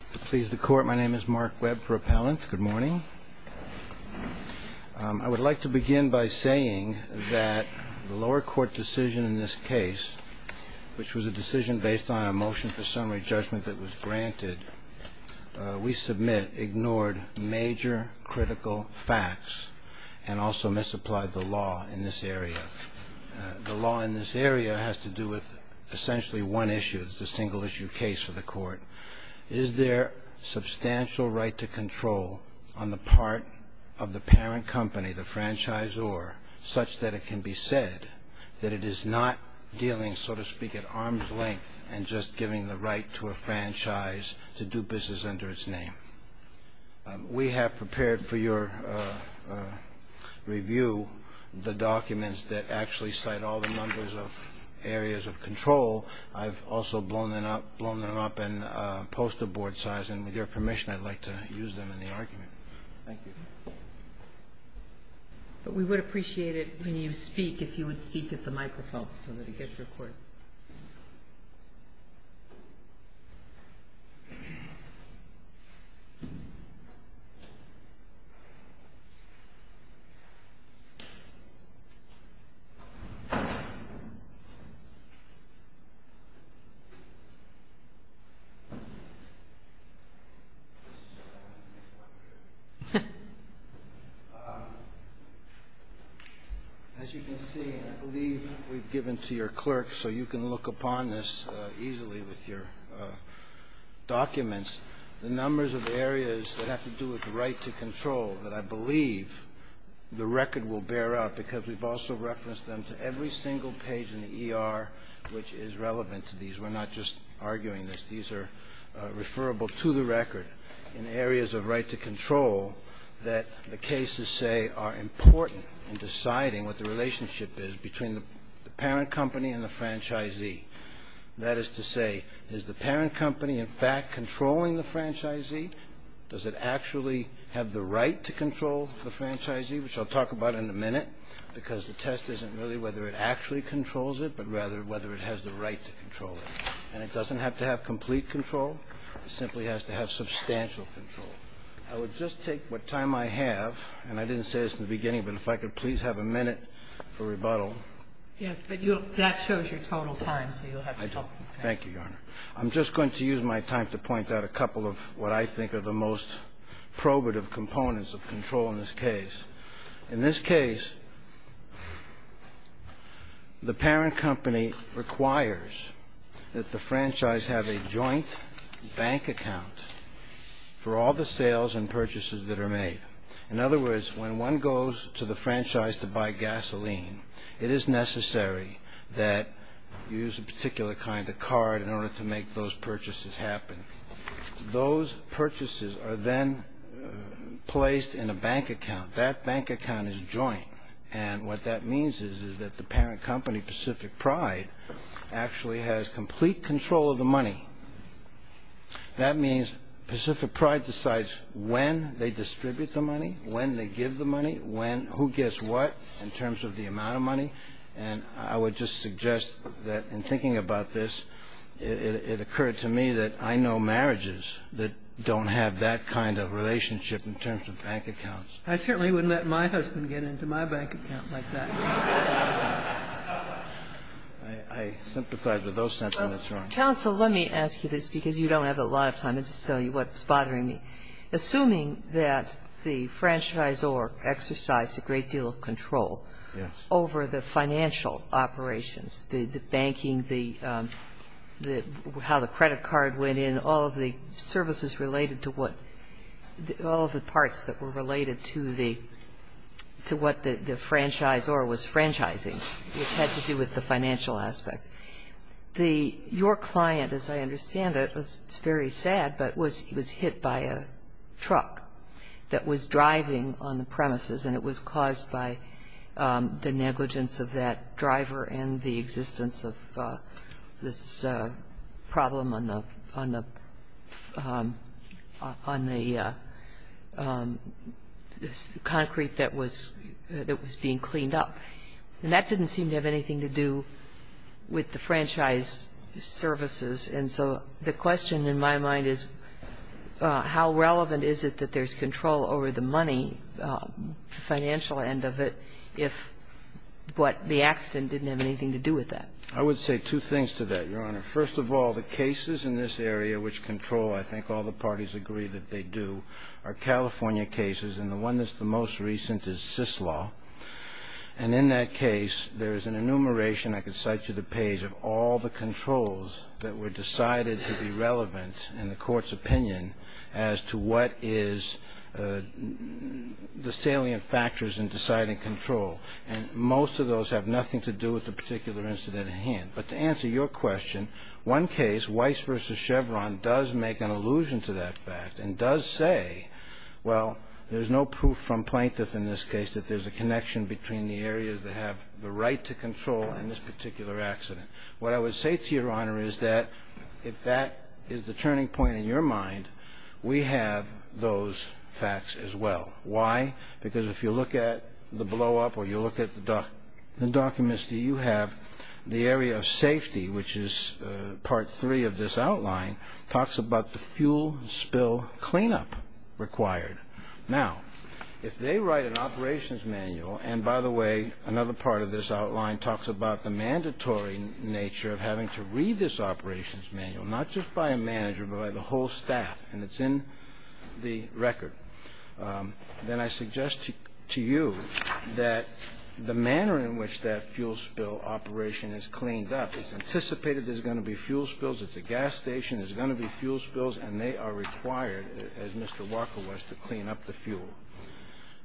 Please the court. My name is Mark Webb for appellants. Good morning. I would like to begin by saying that the lower court decision in this case, which was a decision based on a motion for summary judgment that was granted, we submit ignored major critical facts and also misapplied the law in this area. The law in this area has to do with essentially one issue. It's a single issue case for the court. Is there substantial right to control on the part of the parent company, the franchisor, such that it can be said that it is not dealing, so to speak, at arm's length and just giving the right to a franchise to do business under its name? We have prepared for your review the documents that actually cite all the numbers of areas of control. I've also blown them up, blown them up in poster board size. And with your permission, I'd like to use them in the argument. Thank you. But we would appreciate it when you speak, if you would speak at the microphone so that it gets recorded. As you can see, and I believe we've given to your clerk so you can look upon this easily with your documents, the numbers of areas that have to do with right to control that I believe the record will bear out, because we've also referenced them to every single page in the ER which is relevant to these. We're not just arguing this. These are referable to the record in areas of right to control that the cases say are important in deciding what the relationship is between the parent company and the franchisee. That is to say, is the parent company in fact controlling the franchisee? Does it actually have the right to control the franchisee, which I'll talk about in a minute, because the test isn't really whether it actually controls it, but rather whether it has the right to control it. And it doesn't have to have complete control. It simply has to have substantial control. I would just take what time I have, and I didn't say this in the beginning, but if I could please have a minute for rebuttal. Yes, but that shows your total time, so you'll have to help me. I do. Thank you, Your Honor. I'm just going to use my time to point out a couple of what I think are the most probative components of control in this case. In this case, the parent company requires that the franchise have a joint bank account for all the sales and purchases that are made. In other words, when one goes to the franchise to buy gasoline, it is necessary that you use a particular kind of card in order to make those purchases happen. Those purchases are then placed in a bank account. That bank account is joint, and what that means is that the parent company, Pacific Pride, actually has complete control of the money. That means Pacific Pride decides when they distribute the money, when they give the money, when, who gets what in terms of the amount of money. And I would just suggest that in thinking about this, it occurred to me that I know marriages that don't have that kind of relationship in terms of bank accounts. I certainly wouldn't let my husband get into my bank account like that. Counsel, let me ask you this because you don't have a lot of time. I'll just tell you what's bothering me. Assuming that the franchisor exercised a great deal of control over the financial operations, the banking, how the credit card went in, all of the services related to what, all of the parts that were related to what the franchisor was franchising, which had to do with the financial aspects. Your client, as I understand it, it's very sad, but was hit by a truck that was driving on the premises, and it was caused by the negligence of that driver and the existence of this problem on the concrete that was being cleaned up. And that didn't seem to have anything to do with the franchise services. And so the question in my mind is how relevant is it that there's control over the money, the financial end of it, if what the accident didn't have anything to do with that? I would say two things to that, Your Honor. First of all, the cases in this area which control, I think all the parties agree that they do, are California cases. And the one that's the most recent is Syslaw. And in that case, there is an enumeration, I could cite you the page, of all the controls that were decided to be relevant in the court's opinion as to what is the salient factors in deciding control. And most of those have nothing to do with the particular incident at hand. But to answer your question, one case, Weiss v. Chevron, does make an allusion to that fact and does say, well, there's no proof from plaintiffs in this case that there's a connection between the areas that have the right to control and this particular accident. What I would say to Your Honor is that if that is the turning point in your mind, we have those facts as well. Why? Because if you look at the blowup or you look at the documents that you have, the area of safety, which is part three of this outline, talks about the fuel spill cleanup required. Now, if they write an operations manual, and by the way, another part of this outline talks about the mandatory nature of having to read this operations manual, not just by a manager, but by the whole staff, and it's in the record, then I suggest to you that the manner in which that fuel spill operation is cleaned up is anticipated there's going to be fuel spills at the gas station, there's going to be fuel spills, and they are required, as Mr. Walker was, to clean up the fuel.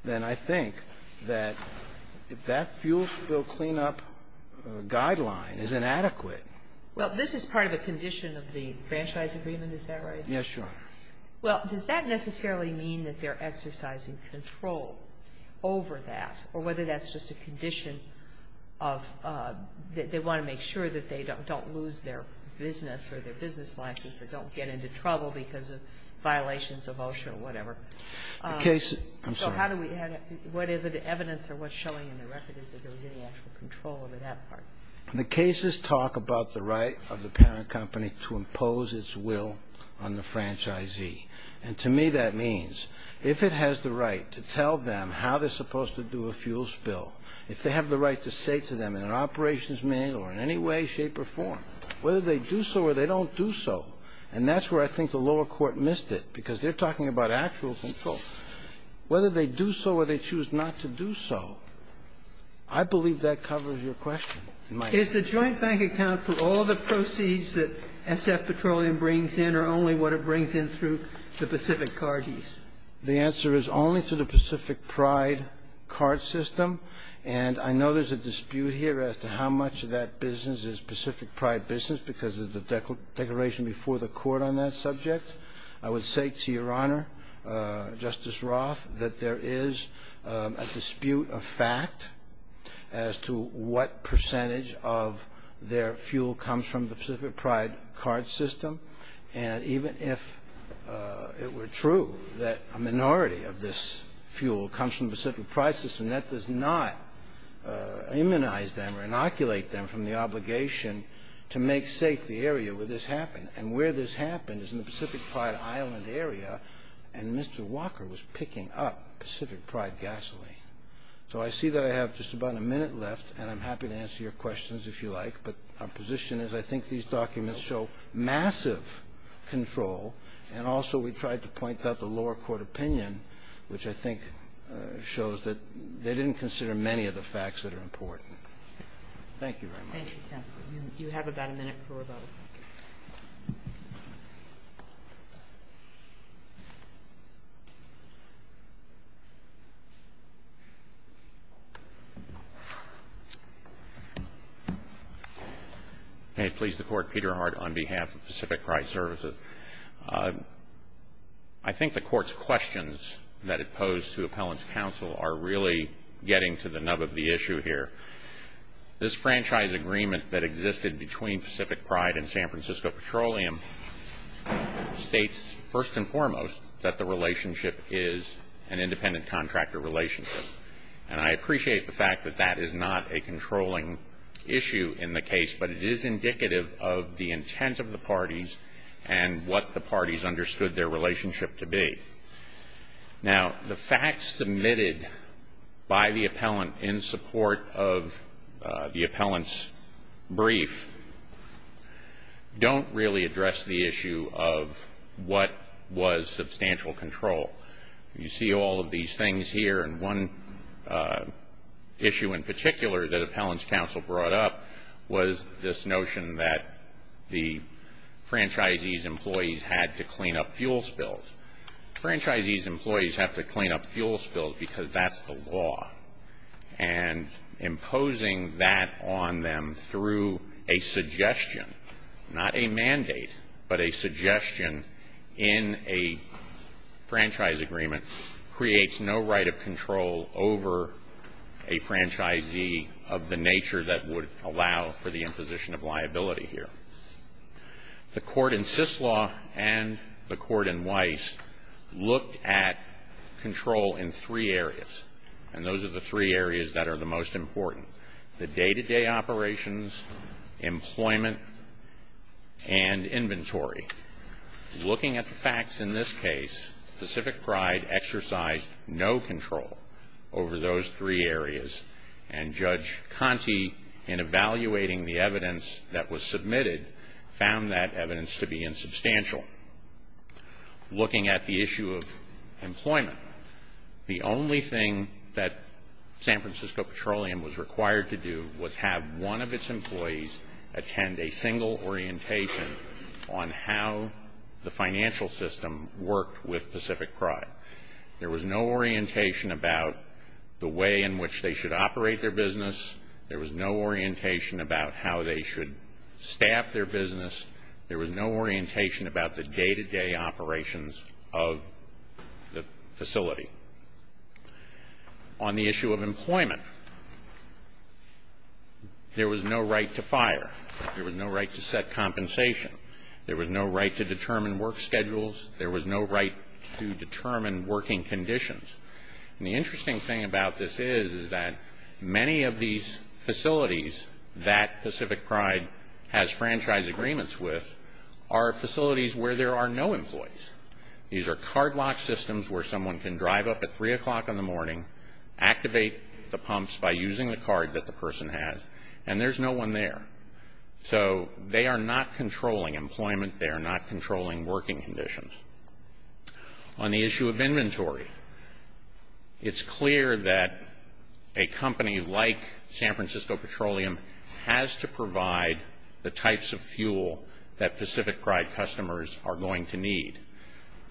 Then I think that if that fuel spill cleanup guideline is inadequate. Well, this is part of a condition of the franchise agreement, is that right? Yes, Your Honor. Well, does that necessarily mean that they're exercising control over that, or whether that's just a condition of they want to make sure that they don't lose their business or their business license or don't get into trouble because of violations of OSHA or whatever? The case, I'm sorry. So how do we, what evidence or what's showing in the record is that there was any actual control over that part? The cases talk about the right of the parent company to impose its will on the franchisee, and to me that means if it has the right to tell them how they're supposed to do a fuel spill, if they have the right to say to them in an operations meeting or in any way, shape, or form, whether they do so or they don't do so, and that's where I think the lower court missed it, because they're talking about actual control, whether they do so or they choose not to do so, I believe that covers your question. Is the joint bank account for all the proceeds that SF Petroleum brings in or only what it brings in through the Pacific Card use? The answer is only through the Pacific Pride card system, and I know there's a dispute here as to how much of that business is Pacific Pride business because of the declaration before the Court on that subject. I would say to Your Honor, Justice Roth, that there is a dispute of fact as to what percentage of their fuel comes from the Pacific Pride card system, and even if it were true that a minority of this fuel comes from the Pacific Pride system, that does not immunize them or inoculate them from the obligation to make safe the area where this happened. And where this happened is in the Pacific Pride Island area, and Mr. Walker was picking up Pacific Pride gasoline. So I see that I have just about a minute left, and I'm happy to answer your questions if you like, but our position is I think these documents show massive control, and also we tried to point out the lower court opinion, which I think shows that they didn't consider many of the facts that are important. Thank you very much. Thank you, counsel. You have about a minute for rebuttal. May it please the Court, Peter Hart on behalf of Pacific Pride Services. I think the Court's questions that it posed to Appellant's counsel are really getting to the nub of the issue here. This franchise agreement that existed between Pacific Pride and San Francisco Petroleum states, first and foremost, that the relationship is an independent contractor relationship. And I appreciate the fact that that is not a controlling issue in the case, but it is indicative of the intent of the parties and what the parties understood their relationship to be. Now, the facts submitted by the Appellant in support of the Appellant's brief don't really address the issue of what was substantial control. You see all of these things here, and one issue in particular that Appellant's counsel brought up was this notion that the franchisee's employees had to clean up fuel spills. Franchisee's employees have to clean up fuel spills because that's the law, and imposing that on them through a suggestion, not a mandate, but a suggestion in a franchise agreement creates no right of control over a franchisee of the nature that would allow for the imposition of liability here. The court in Syslaw and the court in Weiss looked at control in three areas, and those are the three areas that are the most important. The day-to-day operations, employment, and inventory. Looking at the facts in this case, Pacific Pride exercised no control over those three areas, and Judge Conte, in evaluating the evidence that was submitted, found that evidence to be insubstantial. Looking at the issue of employment, the only thing that San Francisco Petroleum was required to do was have one of its employees attend a single orientation on how the financial system worked with Pacific Pride. There was no orientation about the way in which they should operate their business. There was no orientation about how they should staff their business. There was no orientation about the day-to-day operations of the facility. On the issue of employment, there was no right to fire. There was no right to set compensation. There was no right to determine work schedules. There was no right to determine working conditions. And the interesting thing about this is that many of these facilities that Pacific Pride has franchise agreements with are facilities where there are no employees. These are card-locked systems where someone can drive up at 3 o'clock in the morning, activate the pumps by using the card that the person has, and there's no one there. So they are not controlling employment. They are not controlling working conditions. On the issue of inventory, it's clear that a company like San Francisco Petroleum has to provide the types of fuel that Pacific Pride customers are going to need.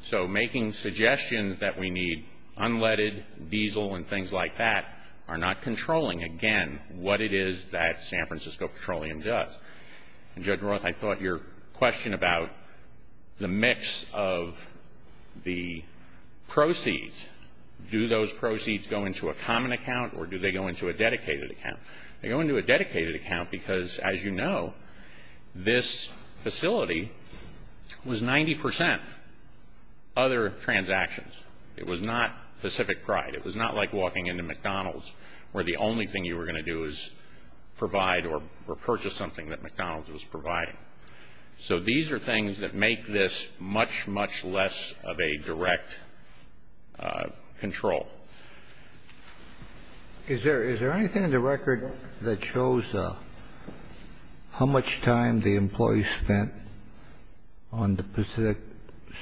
So making suggestions that we need unleaded, diesel, and things like that are not controlling, again, what it is that San Francisco Petroleum does. Judge Roth, I thought your question about the mix of the proceeds, do those proceeds go into a common account or do they go into a dedicated account? They go into a dedicated account because, as you know, this facility was 90% other transactions. It was not Pacific Pride. It was not like walking into McDonald's where the only thing you were going to do is provide or purchase something that McDonald's was providing. So these are things that make this much, much less of a direct control. Is there anything in the record that shows how much time the employees spent on the Pacific,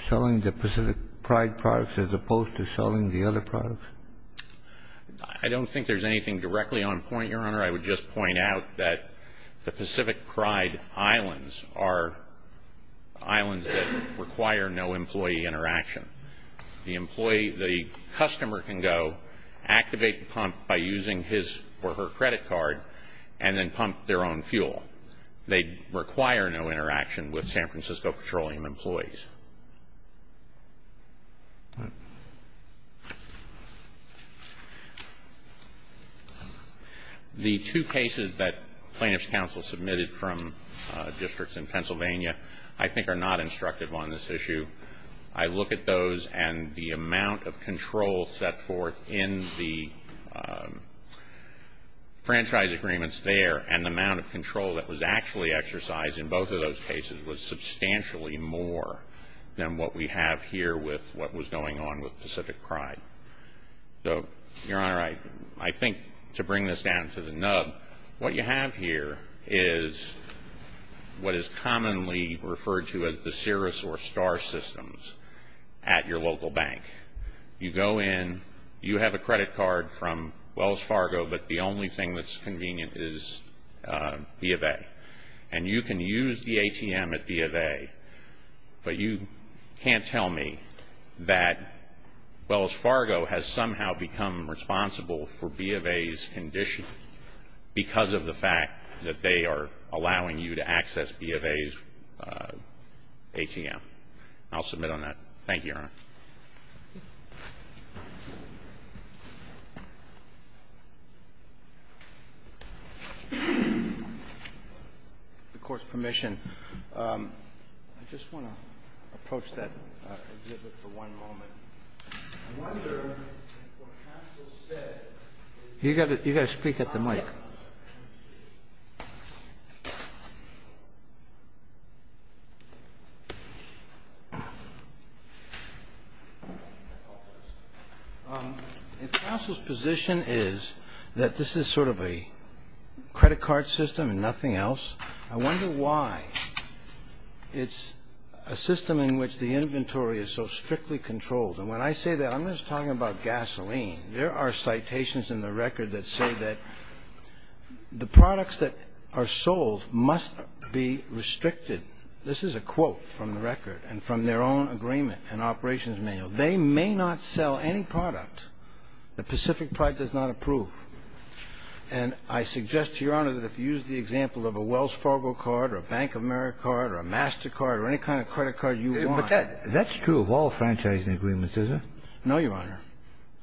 Pacific Pride products as opposed to selling the other products? I don't think there's anything directly on point, Your Honor. I would just point out that the Pacific Pride islands are islands that require no employee interaction. The employee, the customer can go activate the pump by using his or her credit card and then pump their own fuel. They require no interaction with San Francisco Petroleum employees. The two cases that plaintiff's counsel submitted from districts in Pennsylvania, I think are not instructive on this issue. I look at those and the amount of control set forth in the franchise agreements there and the amount of control that was actually exercised in both of those cases was substantially more than what we have here with what was going on with Pacific Pride. So, Your Honor, I think to bring this down to the nub, what you have here is what is commonly referred to as the Cirrus or Star systems at your local bank. You go in, you have a credit card from Wells Fargo, but the only thing that's convenient is B of A. And you can use the ATM at B of A, but you can't tell me that Wells Fargo has somehow become responsible for B of A's condition because of the fact that they are allowing you to access B of A's ATM. I'll submit on that. Thank you, Your Honor. The court's permission. I just want to approach that exhibit for one moment. I wonder what counsel said. You've got to speak at the mic. If counsel's position is that this is sort of a credit card system and nothing else, I wonder why. It's a system in which the inventory is so strictly controlled. And when I say that, I'm just talking about gasoline. There are citations in the record that say that the products that are sold must be restricted. This is a quote from the record and from their own agreement and operations manual. They may not sell any product that Pacific Pride does not approve. And I suggest to Your Honor that if you use the example of a Wells Fargo card or a Bank of America card or a MasterCard or any kind of credit card you want. But that's true of all franchising agreements, isn't it? No, Your Honor.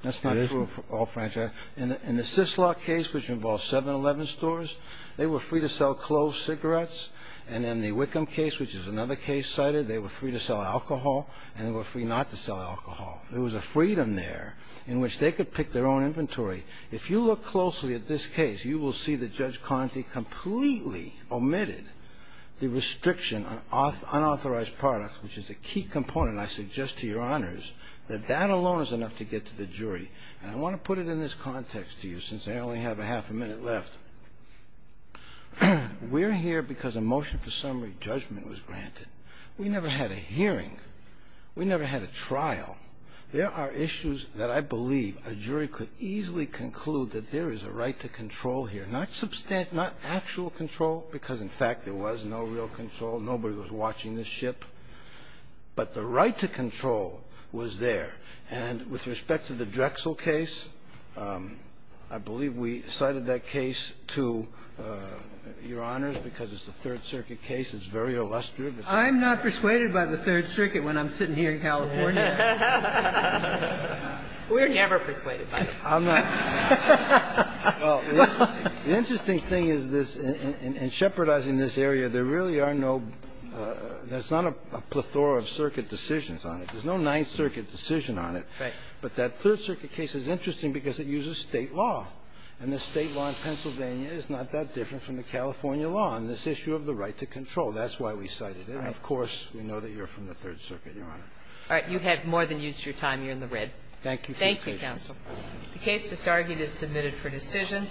That's not true of all franchising. In the Syslock case, which involved 7-Eleven stores, they were free to sell closed cigarettes. And in the Wickham case, which is another case cited, they were free to sell alcohol and they were free not to sell alcohol. There was a freedom there in which they could pick their own inventory. If you look closely at this case, you will see that Judge Conte completely omitted the restriction on unauthorized products, which is a key component, I suggest to Your Honors, that that alone is enough to get to the jury. And I want to put it in this context to you since I only have a half a minute left. We're here because a motion for summary judgment was granted. We never had a trial. There are issues that I believe a jury could easily conclude that there is a right to control here, not substantial, not actual control, because, in fact, there was no real control. Nobody was watching the ship. But the right to control was there. And with respect to the Drexel case, I believe we cited that case to Your Honors because it's a Third Circuit case. It's very illustrious. I'm not persuaded by the Third Circuit when I'm sitting here in California. We're never persuaded by it. Well, the interesting thing is this. In shepherdizing this area, there really are no – there's not a plethora of circuit decisions on it. There's no Ninth Circuit decision on it. Right. But that Third Circuit case is interesting because it uses State law. And the State law in Pennsylvania is not that different from the California law on this issue of the right to control. That's why we cited it. And, of course, we know that you're from the Third Circuit, Your Honor. All right. You have more than used your time. You're in the red. Thank you for your patience. Thank you, counsel. The case just argued is submitted for decision.